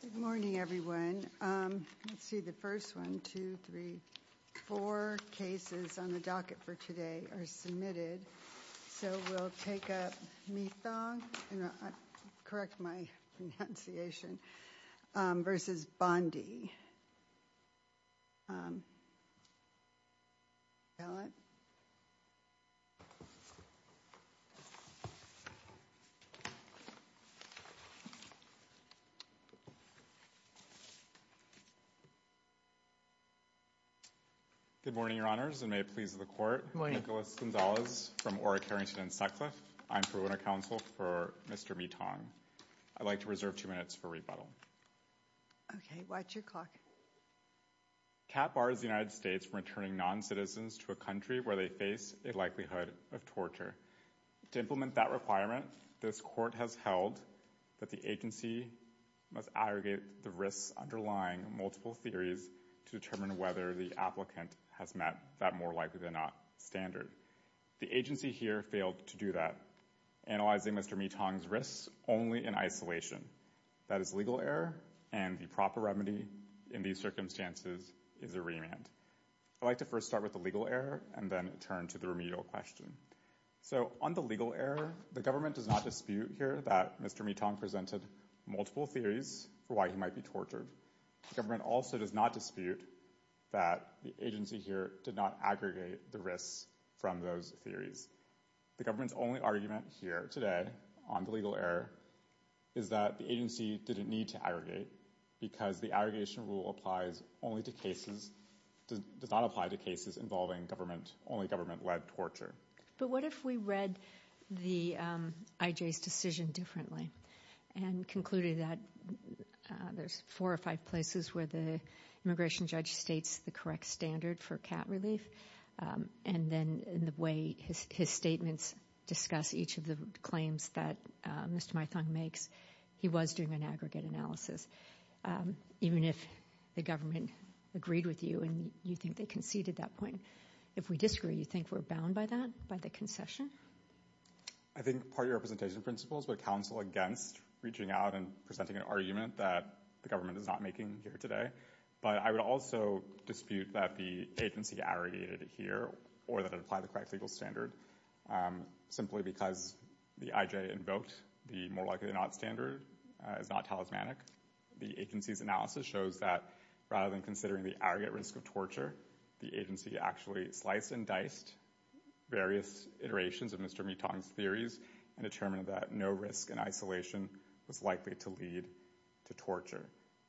Good morning, everyone. Let's see, the first one, two, three, four cases on the docket for today are submitted. So we'll take up Mithong, correct my pronunciation, versus Bondi. Good morning, Your Honors, and may it please the Court. Nicholas Gonzalez from Ora-Carrington and Sutcliffe. I'm for Winter Counsel for Mr. Mithong. I'd like to reserve two minutes for rebuttal. Okay, watch your clock. CAP bars the United States from returning noncitizens to a country where they face a likelihood of torture. To implement that requirement, this Court has held that the agency must aggregate the risks underlying multiple theories to determine whether the applicant has met that more likely than not standard. The agency here failed to do that, analyzing Mr. Mithong's risks only in isolation. That is legal error, and the proper remedy in these circumstances is a remand. I'd like to first start with the legal error and then turn to the remedial question. So on the legal error, the government does not dispute here that Mr. Mithong presented multiple theories for why he might be tortured. The government also does not dispute that the agency here did not aggregate the risks from those theories. The government's only argument here today on the legal error is that the agency didn't need to aggregate because the aggregation rule applies only to cases – does not apply to cases involving government – only government-led torture. But what if we read the IJ's decision differently and concluded that there's four or five places where the immigration judge states the correct standard for cat relief, and then in the way his statements discuss each of the claims that Mr. Mithong makes, he was doing an aggregate analysis, even if the government agreed with you and you think they conceded that point. If we disagree, you think we're bound by that, by the concession? I think party representation principles would counsel against reaching out and presenting an argument that the government is not making here today. But I would also dispute that the agency aggregated here or that it applied the correct legal standard simply because the IJ invoked the more likely than not standard is not talismanic. The agency's analysis shows that rather than considering the aggregate risk of torture, the agency actually sliced and diced various iterations of Mr. Mithong's theories and determined that no risk in isolation was likely to lead to torture.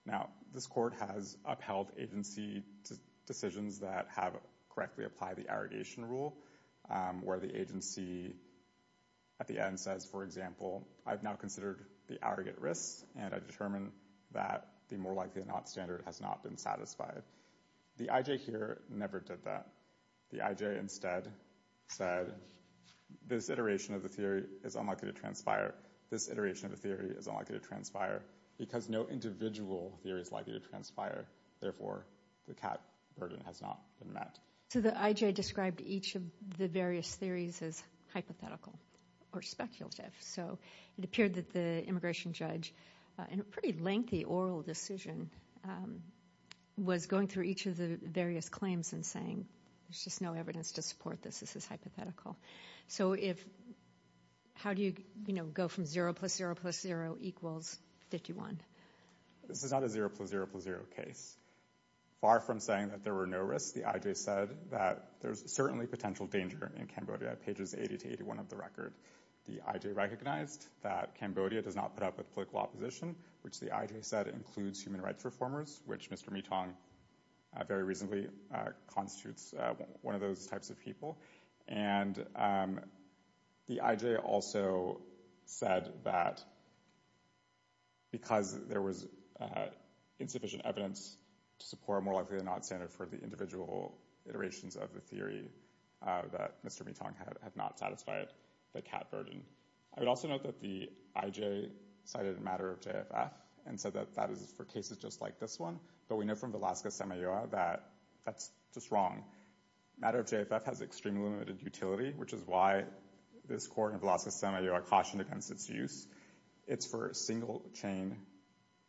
Now, this court has upheld agency decisions that have correctly applied the aggregation rule, where the agency at the end says, for example, I've now considered the aggregate risks and I've determined that the more likely than not standard has not been satisfied. The IJ here never did that. The IJ instead said, this iteration of the theory is unlikely to transpire because no individual theory is likely to transpire. Therefore, the cap burden has not been met. So the IJ described each of the various theories as hypothetical or speculative. So it appeared that the immigration judge, in a pretty lengthy oral decision, was going through each of the various claims and saying, there's just no evidence to support this. This is hypothetical. So how do you go from 0 plus 0 plus 0 equals 51? This is not a 0 plus 0 plus 0 case. Far from saying that there were no risks, the IJ said that there's certainly potential danger in Cambodia at pages 80 to 81 of the record. The IJ recognized that Cambodia does not put up with political opposition, which the IJ said includes human rights reformers, which Mr. Mithong very recently constitutes one of those types of people. And the IJ also said that because there was insufficient evidence to support a more likely than not standard for the individual iterations of the theory that Mr. Mithong had not satisfied the cap burden. I would also note that the IJ cited a matter of JFF and said that that is for cases just like this one. But we know from Velasco-Semajoa that that's just wrong. Matter of JFF has extremely limited utility, which is why this court in Velasco-Semajoa cautioned against its use. It's for single chain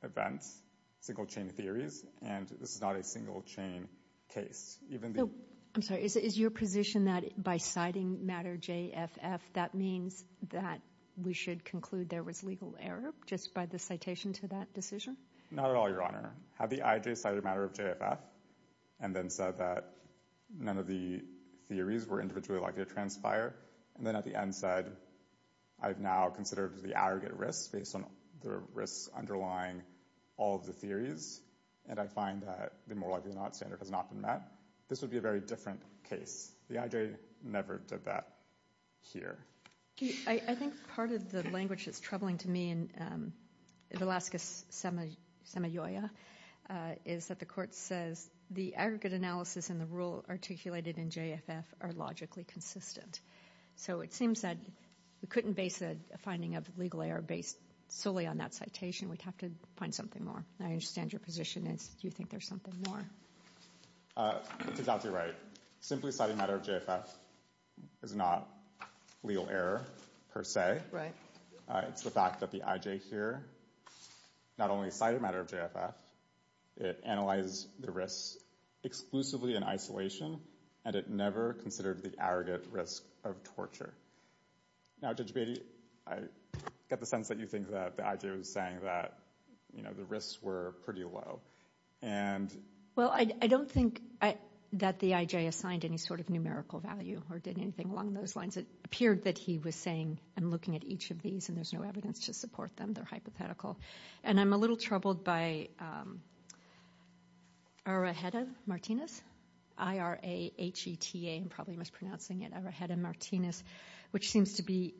events, single chain theories, and this is not a single chain case. So, I'm sorry, is your position that by citing Matter JFF, that means that we should conclude there was legal error just by the citation to that decision? Not at all, Your Honor. Had the IJ cited Matter of JFF, and then said that none of the theories were individually likely to transpire, and then at the end said, I've now considered the aggregate risks based on the risks underlying all of the theories, and I find that the more likely than not standard has not been met, this would be a very different case. The IJ never did that here. I think part of the language that's troubling to me in Velasco-Semajoa is that the court says the aggregate analysis and the rule articulated in JFF are logically consistent. So it seems that we couldn't base a finding of legal error based solely on that citation. We'd have to find something more. I understand your position is you think there's something more. It's exactly right. Simply citing Matter of JFF is not legal error per se. It's the fact that the IJ here not only cited Matter of JFF, it analyzed the risks exclusively in isolation, and it never considered the aggregate risk of torture. Now, Judge Beatty, I get the sense that you think that the IJ was saying that the risks were pretty low, and... Well, I don't think that the IJ assigned any sort of numerical value or did anything along those lines. It appeared that he was saying, I'm looking at each of these, and there's no evidence to support them. They're hypothetical. And I'm a little troubled by Arajeta-Martinez, I-R-A-H-E-T-A, I'm probably mispronouncing it, Arajeta-Martinez, which seems to be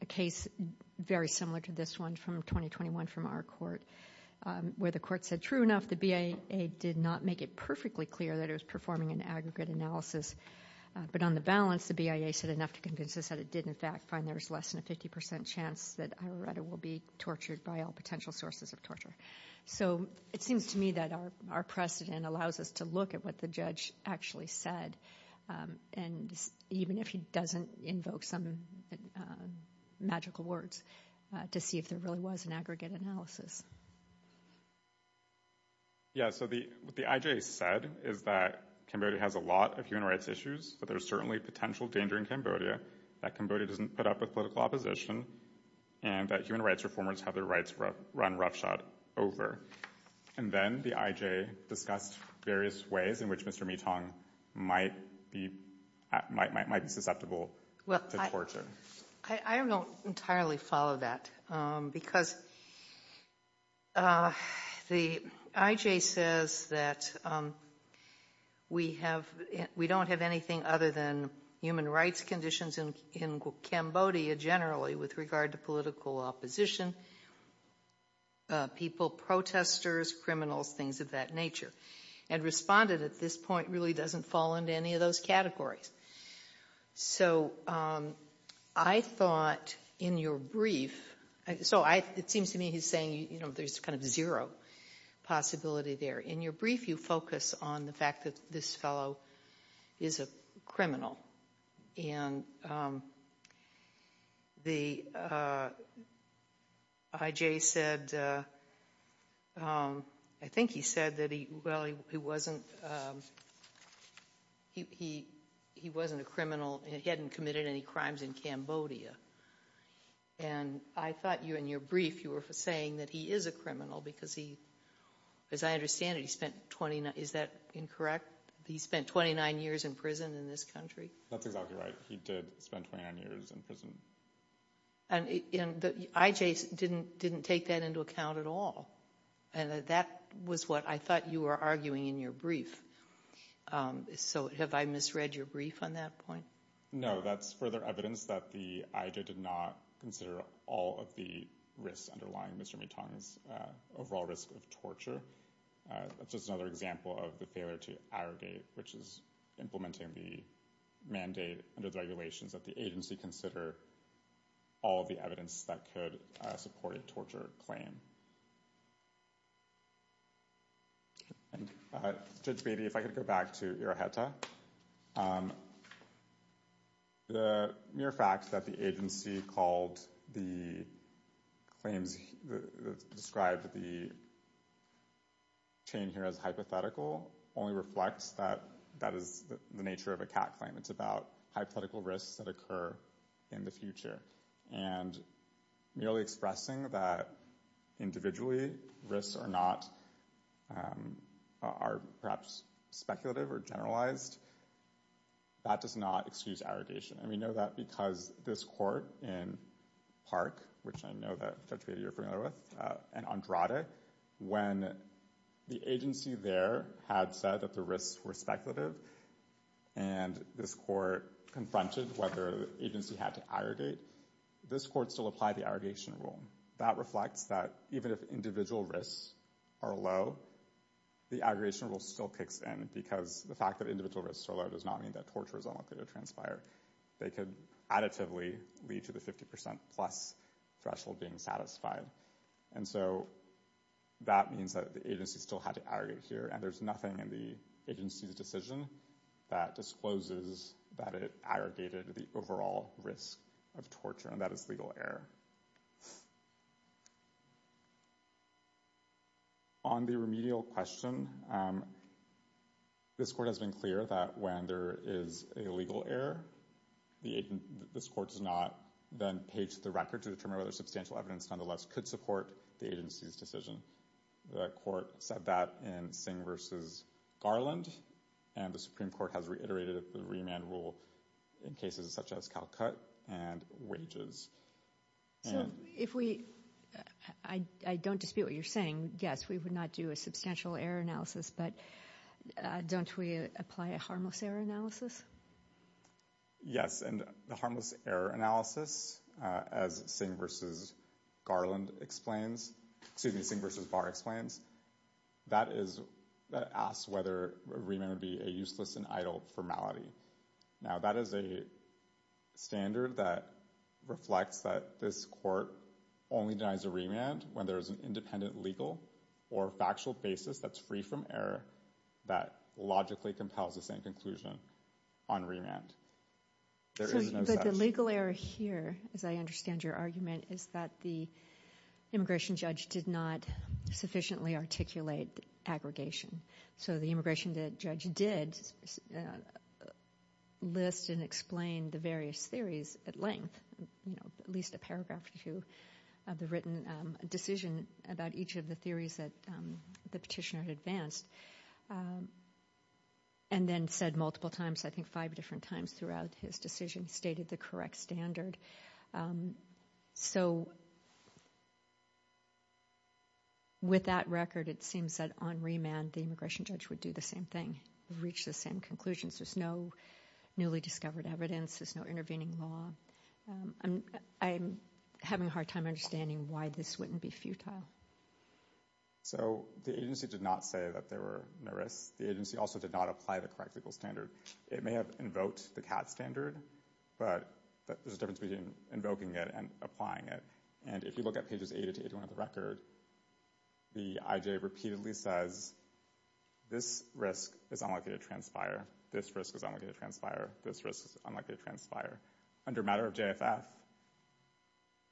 a case very similar to this one from 2021 from our court, where the court said, true enough, the BIA did not make it perfectly clear that it was performing an aggregate analysis, but on the balance, the BIA said enough to convince us that it did, in fact, find there was less than a 50% chance that Arajeta will be tortured by all potential sources of torture. So it seems to me that our precedent allows us to look at what the judge actually said, and even if he doesn't invoke some magical words, to see if there really was an aggregate analysis. Yeah, so what the IJ said is that Cambodia has a lot of human rights issues, but there's certainly potential danger in Cambodia, that Cambodia doesn't put up with political opposition, and that human rights reformers have their rights run roughshod over. And then the IJ discussed various ways in which Mr. Mee-Tong might be susceptible to torture. I don't entirely follow that, because the IJ says that we don't have anything other than human rights conditions in Cambodia generally with regard to political opposition, people, protesters, criminals, things of that nature, and responded at this point really doesn't fall into any of those categories. So I thought in your brief, so it seems to me he's saying there's kind of zero possibility there. In your brief, you focus on the fact that this fellow is a criminal, and the IJ said, I think he said that he wasn't a criminal, he hadn't committed any crimes in Cambodia. And I thought in your brief you were saying that he is a criminal, because he, as I understand it, he spent 29, is that incorrect? He spent 29 years in prison in this country. That's exactly right. He did spend 29 years in prison. And the IJ didn't take that into account at all. And that was what I thought you were arguing in your brief. So have I misread your brief on that point? No, that's further evidence that the IJ did not consider all of the risks underlying Mr. Mitong's overall risk of torture. That's just another example of the failure to arrogate, which is implementing the mandate under the regulations that the agency consider all of the evidence that could support a torture claim. Judge Beatty, if I could go back to Iroheta. The mere fact that the agency called the claims, described the chain here as hypothetical, only reflects that that is the nature of a CAT claim. It's about hypothetical risks that occur in the future. And merely expressing that individual risks are not, are perhaps speculative or generalized, that does not excuse arrogation. And we know that because this court in Park, which I know that Judge Beatty you're familiar with, and Andrade, when the agency there had said that the risks were speculative, and this court confronted whether the agency had to arrogate, this court still applied the argument that if individual risks are low, the aggregation rule still kicks in, because the fact that individual risks are low does not mean that torture is unlikely to transpire. They could additively lead to the 50% plus threshold being satisfied. And so that means that the agency still had to arrogate here, and there's nothing in the agency's decision that discloses that it aggregated the overall risk of torture, and that is legal error. On the remedial question, this court has been clear that when there is a legal error, this court has not then paged the record to determine whether substantial evidence nonetheless could support the agency's decision. The court said that in Singh versus Garland, and the Supreme Court has reiterated the remand rule in cases such as Calcutt and wages. So if we, I don't dispute what you're saying, yes, we would not do a substantial error analysis, but don't we apply a harmless error analysis? Yes, and the harmless error analysis, as Singh versus Garland explains, excuse me, asks whether a remand would be a useless and idle formality. Now, that is a standard that reflects that this court only denies a remand when there's an independent legal or factual basis that's free from error that logically compels the same conclusion on remand. But the legal error here, as I understand your argument, is that the immigration judge did not sufficiently articulate aggregation. So the immigration judge did list and explain the various theories at length, at least a paragraph or two of the written decision about each of the theories that the petitioner had advanced, and then said multiple times, I think five different times throughout his decision, stated the correct standard. So with that record, it seems that on remand, the immigration judge would do the same thing, reach the same conclusions. There's no newly discovered evidence. There's no intervening law. I'm having a hard time understanding why this wouldn't be futile. So the agency did not say that there were no risks. The agency also did not apply the correct standard. It may have invoked the CAT standard, but there's a difference between invoking it and applying it. And if you look at pages 80 to 81 of the record, the IJ repeatedly says, this risk is unlikely to transpire. This risk is unlikely to transpire. This risk is unlikely to transpire. Under matter of JFF,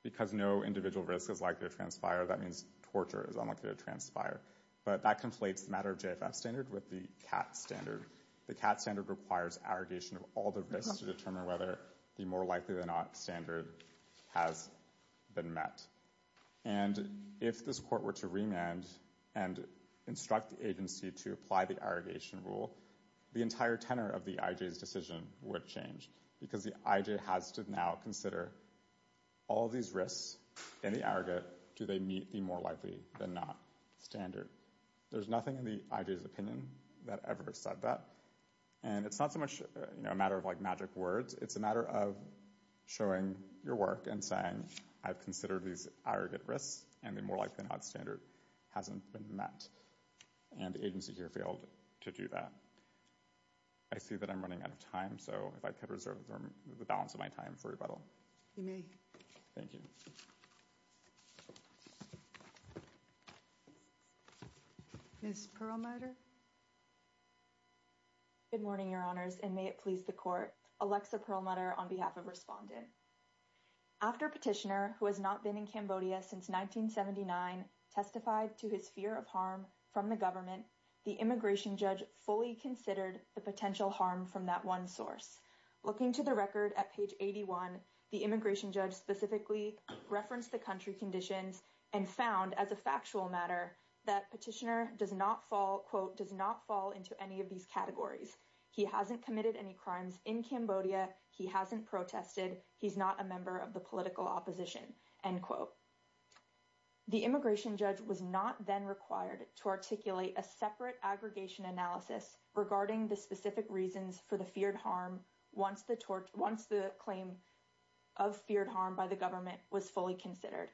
because no individual risk is likely to transpire, that means torture is unlikely to transpire. But that conflates the matter of JFF standard with the CAT standard. The CAT standard requires arrogation of all the risks to determine whether the more likely than not standard has been met. And if this court were to remand and instruct the agency to apply the arrogation rule, the entire tenor of the IJ's decision would change, because the IJ has to now consider all these risks in the arrogant, do they meet the more likely than not standard. There's nothing in the IJ's opinion that ever said that. And it's not so much a matter of like magic words. It's a matter of showing your work and saying, I've considered these arrogant risks, and the more likely than not standard hasn't been met. And the agency here failed to do that. I see that I'm running out of time, so if I could balance my time for rebuttal. You may. Thank you. Ms. Perlmutter. Good morning, Your Honors, and may it please the Court. Alexa Perlmutter on behalf of Respondent. After Petitioner, who has not been in Cambodia since 1979, testified to his fear of harm from the government, the immigration judge fully considered the potential harm from that one source. Looking to the record at page 81, the immigration judge specifically referenced the country conditions and found as a factual matter that Petitioner does not fall, quote, does not fall into any of these categories. He hasn't committed any crimes in Cambodia. He hasn't protested. He's not a member of the political opposition, end quote. The immigration judge was not then required to articulate a separate aggregation analysis regarding the specific reasons for the feared harm once the claim of feared harm by the government was fully considered.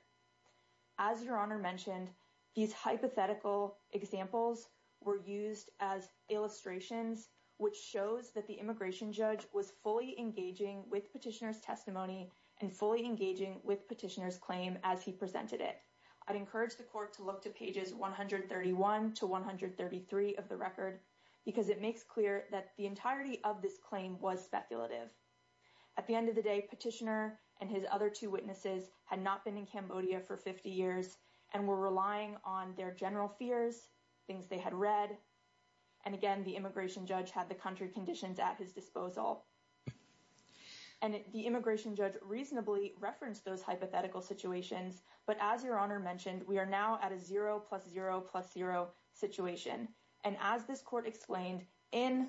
As Your Honor mentioned, these hypothetical examples were used as illustrations, which shows that the immigration judge was fully engaging with Petitioner's testimony and fully engaging with Petitioner's claim as he presented it. I'd encourage the Court to look to pages 131 to 133 of the record because it makes clear that the entirety of this claim was speculative. At the end of the day, Petitioner and his other two witnesses had not been in Cambodia for 50 years and were relying on their general fears, things they had read, and again, the immigration judge had the country conditions at his disposal. And the immigration judge reasonably referenced those hypothetical situations, but as Your Honor mentioned, we are now at a zero plus zero plus zero situation. And as this Court explained in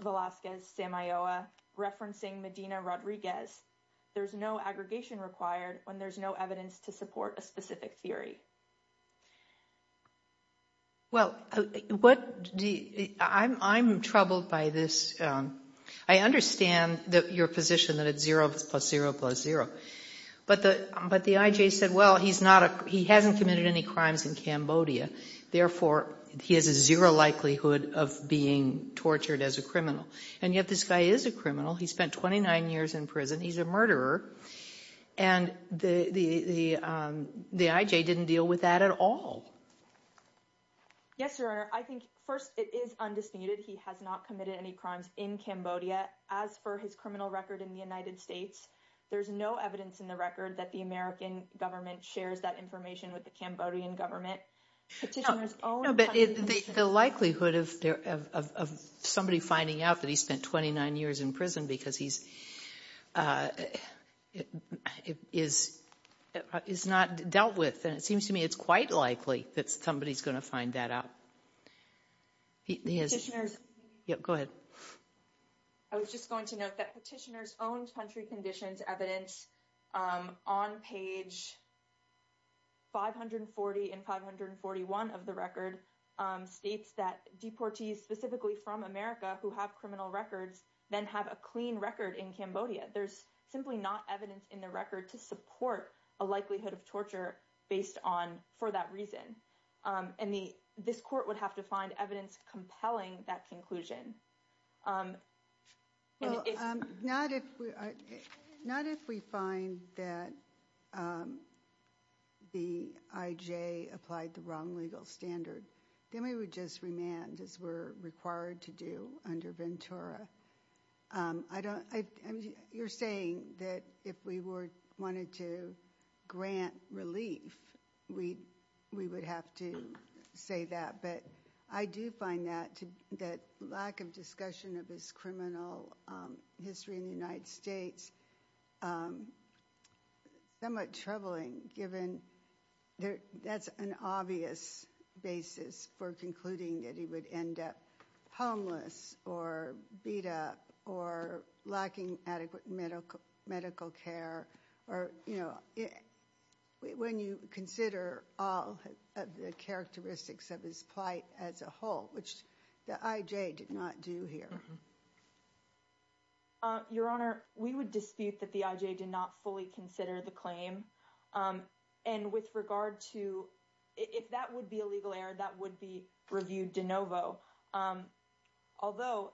Velazquez-Semilloa, referencing Medina-Rodriguez, there's no aggregation required when there's no evidence to support a specific theory. Well, I'm troubled by this. I understand your position that it's zero plus zero plus zero, but the IJ said, well, he hasn't committed any crimes in Cambodia. Therefore, he has a zero likelihood of being tortured as a criminal. And yet this guy is a criminal. He spent 29 years in prison. He's a murderer. And the IJ didn't deal with that at all. Yes, Your Honor. I think, first, it is undisputed. He has not committed any crimes in Cambodia. As for his criminal record in the United States, there's no evidence in the record that the American government shares that information with the Cambodian government. No, but the likelihood of somebody finding out that he spent 29 years in prison because he's not dealt with, and it seems to me, it's quite likely that somebody's going to find that out. Go ahead. I was just going to note that petitioner's own country conditions evidence on page 540 and 541 of the record states that deportees specifically from America who have criminal records then have a clean record in Cambodia. There's simply not evidence in the record to support a likelihood of torture based on for that reason. And this court would have to find evidence compelling that conclusion. Not if we find that the IJ applied the wrong legal standard, then we would just remand, as we're required to do under Ventura. You're saying that if we wanted to grant relief, we would have to say that. But I do find that lack of discussion of his criminal history in the United States somewhat troubling given that's an obvious basis for concluding that he would end up homeless or beat up or lacking adequate medical care or, you know, when you consider all of the characteristics of his plight as a whole, which the IJ did not do here. Your Honor, we would dispute that the IJ did not fully consider the claim. And with regard to, if that would be a legal error, that would be reviewed de novo. Although,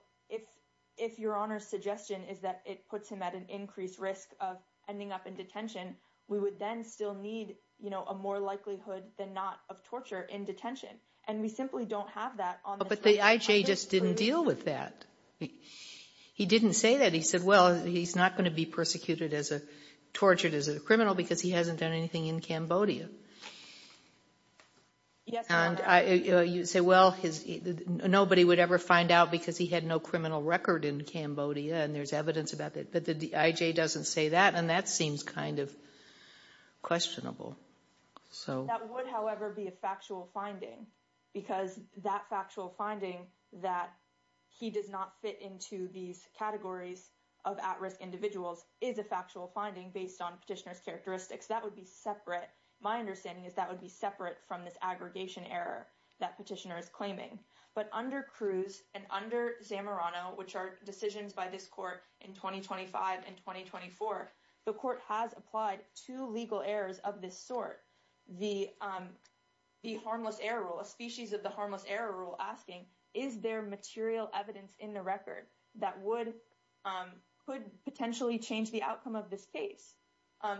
if your Honor's suggestion is that it puts him at an increased risk of ending up in detention, we would then still need, you know, a more likelihood than not of torture in detention. And we simply don't have that. But the IJ just didn't deal with that. He didn't say that. He said, well, he's not going to be persecuted as a, criminal because he hasn't done anything in Cambodia. And you say, well, nobody would ever find out because he had no criminal record in Cambodia and there's evidence about that. But the IJ doesn't say that. And that seems kind of questionable. So that would, however, be a factual finding because that factual finding that he does not fit into these categories of at-risk individuals is a factual finding based on petitioner's characteristics. That would be separate. My understanding is that would be separate from this aggregation error that petitioner is claiming. But under Cruz and under Zamorano, which are decisions by this court in 2025 and 2024, the court has applied two legal errors of this sort. The harmless error rule, a species of the harmless error rule asking, is there material evidence in the record that would could potentially change the outcome of this case?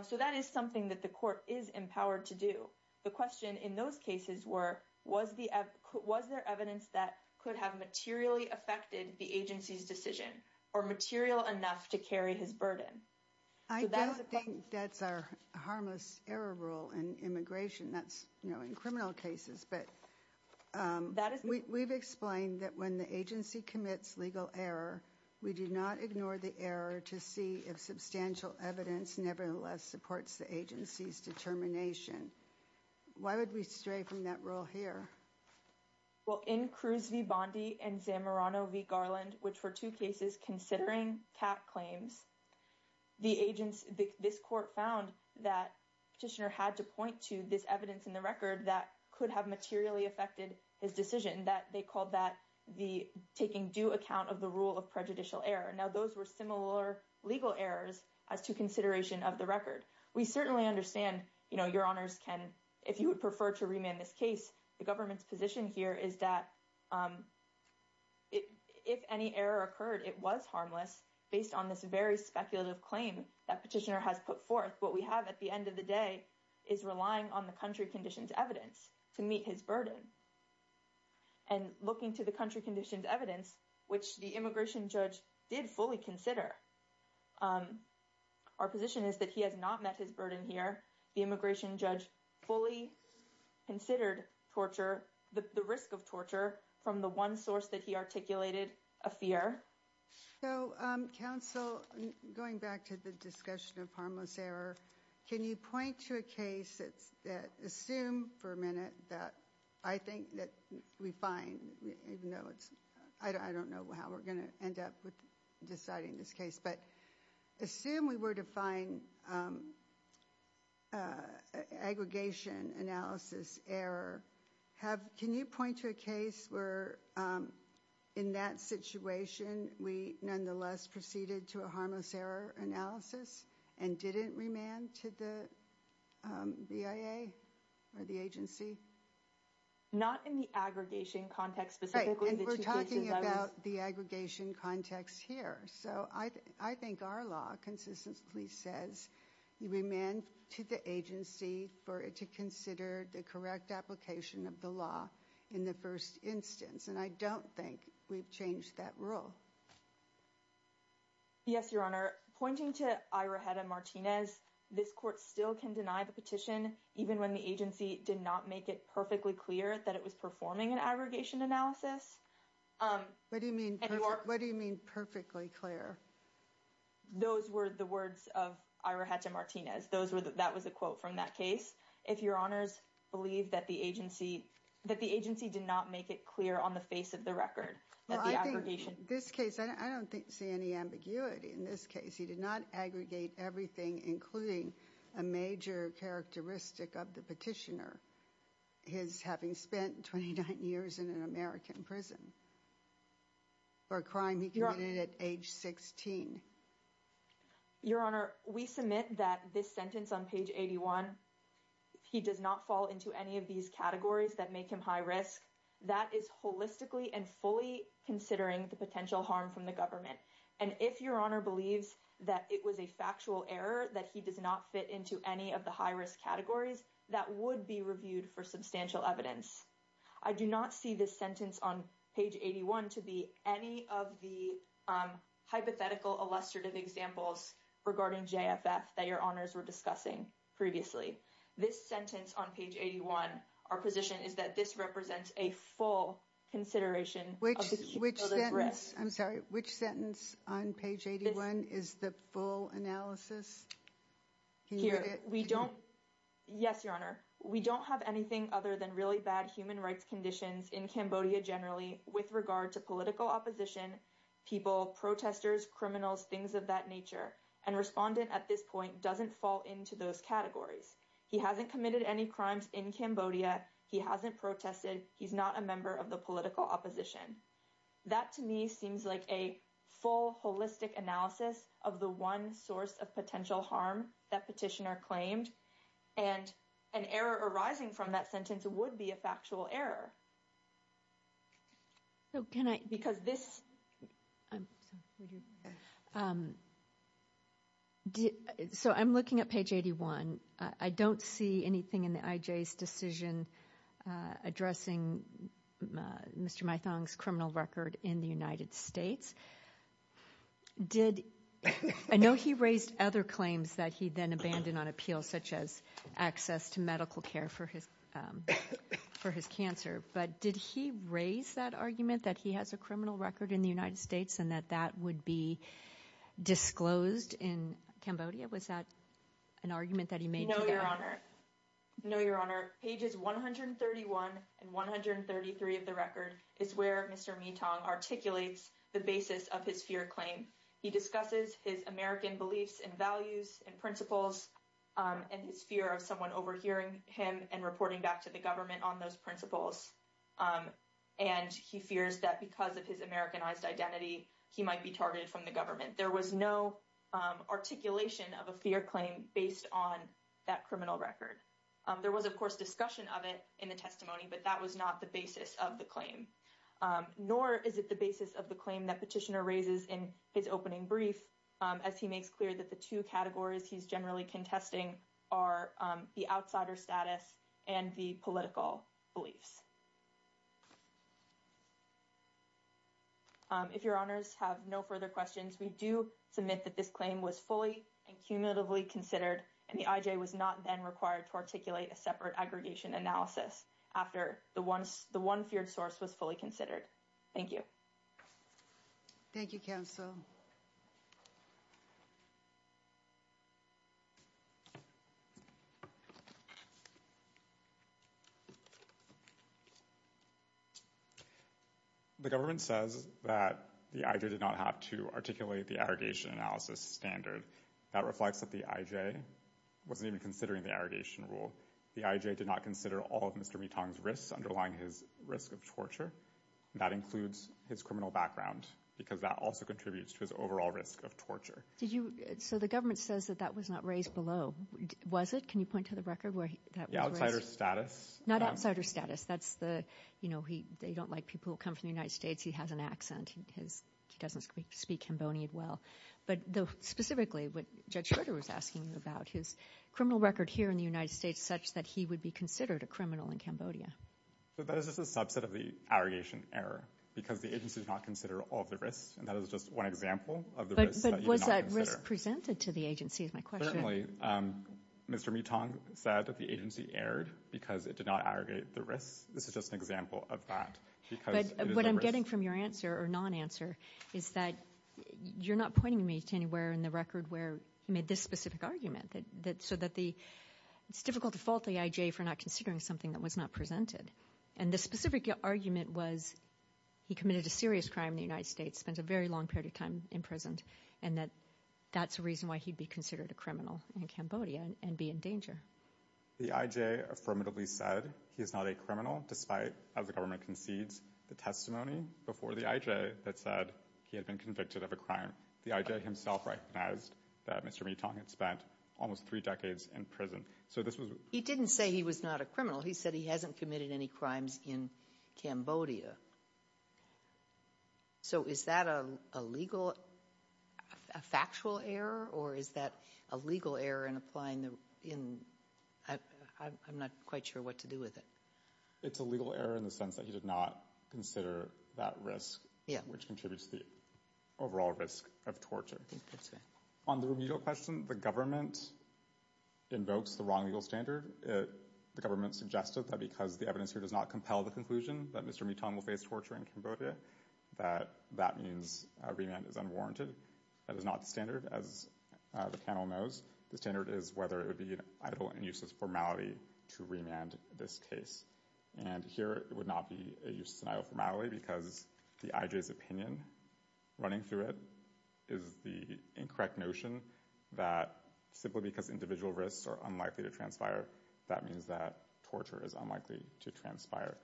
So that is something that the court is empowered to do. The question in those cases were, was there evidence that could have materially affected the agency's decision or material enough to carry his burden? I don't think that's our harmless error rule in immigration. That's in criminal cases. But we've explained that when the agency commits legal error, we do not ignore the error to see if substantial evidence nevertheless supports the agency's determination. Why would we stray from that rule here? Well, in Cruz v. Bondi and Zamorano v. Garland, which were two cases considering CAC claims, this court found that petitioner had to point to this evidence in the record that could have materially affected his decision that they called that the taking due account of the rule of prejudicial error. Now, those were similar legal errors as to consideration of the record. We certainly understand, you know, your honors can, if you would prefer to remand this case, the government's position here is that if any error occurred, it was harmless based on this very speculative claim that petitioner has put forth. What we have at the end of the day is relying on the country conditions evidence to meet his burden. And looking to the country conditions evidence, which the immigration judge did fully consider, our position is that he has not met his burden here. The immigration judge fully considered torture, the risk of torture from the one source that he articulated, a fear. So, counsel, going back to the discussion of harmless error, can you point to a case that assume for a minute that I think that we find, even though it's, I don't know how we're going to end up with deciding this case, but assume we were to find aggregation analysis error, have, can you point to a case where in that situation, we nonetheless proceeded to a harmless error analysis and didn't remand to the BIA or the agency? Not in the aggregation context. Specifically, we're talking about the aggregation context here. So I think our law consistently says you remand to the agency for it to consider the correct application of the law in the first instance. And I don't think we've changed that rule. Yes, Your Honor. Pointing to Ira Hedda Martinez, this court still can deny the petition, even when the agency did not make it perfectly clear that it was performing an aggregation analysis. What do you mean perfectly clear? Those were the words of Ira Hedda Martinez. Those were, that was a quote from that case. If Your Honors believe that the agency, that the agency did not make it clear on the face of the record. Well, I think this case, I don't think, see any ambiguity in this case. He did not aggregate everything, including a major characteristic of the petitioner. His having spent 29 years in an American prison for a crime he committed at age 16. Your Honor, we submit that this sentence on page 81, he does not fall into any of these categories that make him high risk. That is holistically and fully considering the potential harm from the government. And if Your Honor believes that it was a factual error, that he does not fit into any of the high risk categories, that would be reviewed for substantial evidence. I do not see this sentence on page 81 to be any of the hypothetical illustrative examples regarding JFF that Your Honors were discussing previously. This sentence on page 81, our position is that this represents a full consideration. Which sentence, I'm sorry, which sentence on page 81 is the full analysis? Yes, Your Honor. We don't have anything other than really bad human rights conditions in Cambodia generally with regard to political opposition, people, protesters, criminals, things of that nature. And respondent at this point doesn't fall into those categories. He hasn't committed any crimes in Cambodia. He hasn't protested. He's not a member of the opposition. That to me seems like a full holistic analysis of the one source of potential harm that petitioner claimed. And an error arising from that sentence would be a factual error. So I'm looking at page 81. I don't see anything in the IJ's decision addressing Mr. Mythong's criminal record in the United States. I know he raised other claims that he then abandoned on appeal such as access to medical care for his cancer. But did he raise that argument that he has a criminal record in the United States and that that would be disclosed in Cambodia? Was that an argument that he made? No, Your Honor. No, Your Honor. Pages 131 and 133 of the record is where Mr. Mythong articulates the basis of his fear claim. He discusses his American beliefs and values and principles and his fear of someone overhearing him and reporting back to the government on those principles. And he fears that because of his Americanized identity, he might be targeted from the criminal record. There was, of course, discussion of it in the testimony, but that was not the basis of the claim. Nor is it the basis of the claim that petitioner raises in his opening brief, as he makes clear that the two categories he's generally contesting are the outsider status and the political beliefs. If Your Honors have no further questions, we do submit that this claim was fully and cumulatively considered and the IJ was not then required to articulate a separate aggregation analysis after the one feared source was fully considered. Thank you. Thank you, counsel. The government says that the IJ did not have to articulate the aggregation analysis standard. That reflects that the IJ wasn't even considering the aggregation rule. The IJ did not consider all of Mr. Mythong's risks underlying his risk of torture. That includes his criminal background because that also contributes to his overall risk of torture. Did you, so the government says that that was not raised below. Was it? Can you point to the record? Not outsider status. That's the, you know, they don't like people who come from the United States. He has an accent. He doesn't speak Cambodian well, but though specifically what Judge Schroeder was asking you about his criminal record here in the United States such that he would be considered a criminal in Cambodia. So that is just a subset of the aggregation error because the agency did not consider all of the risks and that is just one example of the risks. But was that risk presented to the agency is my question. Certainly. Mr. Mythong said that the agency erred because it did not answer or non-answer is that you're not pointing me to anywhere in the record where he made this specific argument that that so that the it's difficult to fault the IJ for not considering something that was not presented. And the specific argument was he committed a serious crime in the United States, spent a very long period of time in prison, and that that's a reason why he'd be considered a criminal in Cambodia and be in danger. The IJ affirmatively said he is not a criminal despite as the government concedes the testimony before the IJ that said he had been convicted of a crime. The IJ himself recognized that Mr. Mythong had spent almost three decades in prison. So this was he didn't say he was not a criminal. He said he hasn't committed any crimes in Cambodia. So is that a legal a factual error or is that a legal error in applying the in I'm not quite sure what to do with it. It's a legal error in the sense that he did not consider that risk which contributes the overall risk of torture. On the remedial question the government invokes the wrong legal standard. The government suggested that because the evidence here does not compel the conclusion that Mr. Mythong will face torture in Cambodia that that means remand is unwarranted. That is not the standard as the panel knows. The standard is whether it would be an idle and useless formality to remand this case. And here it would not be a useless formality because the IJ's opinion running through it is the incorrect notion that simply because individual risks are unlikely to transpire that means that torture is unlikely to transpire.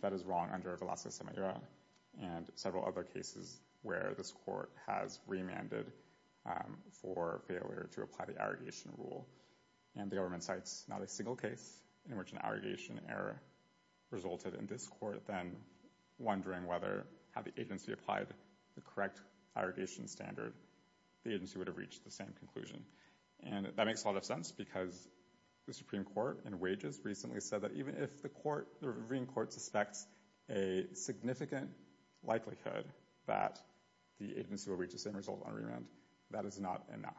That is wrong under Velasquez-Semillera and several other cases where this court has remanded for failure to apply the arrogation rule. And the government cites not a single case in which an arrogation error resulted in this court then wondering whether had the agency applied the correct arrogation standard the agency would have reached the same conclusion. And that makes a lot of sense because the Supreme Court in wages recently said that even if the court the Reverend Court suspects a significant likelihood that the agency will reach the same result on remand that is not enough.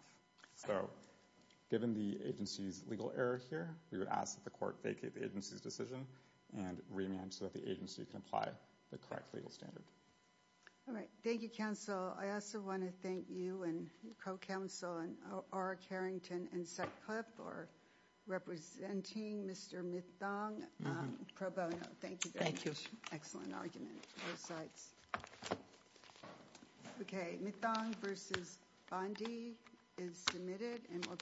So given the agency's legal error here we would ask that the court vacate the agency's decision and remand so that the agency can apply the correct legal standard. All right thank you counsel. I also want to thank you and your co-counsel and R. Carrington and Sutcliffe for representing Mr. Mythong pro bono. Thank you. Thank you. Excellent argument both sides. Okay Mythong versus Bondi is submitted and we'll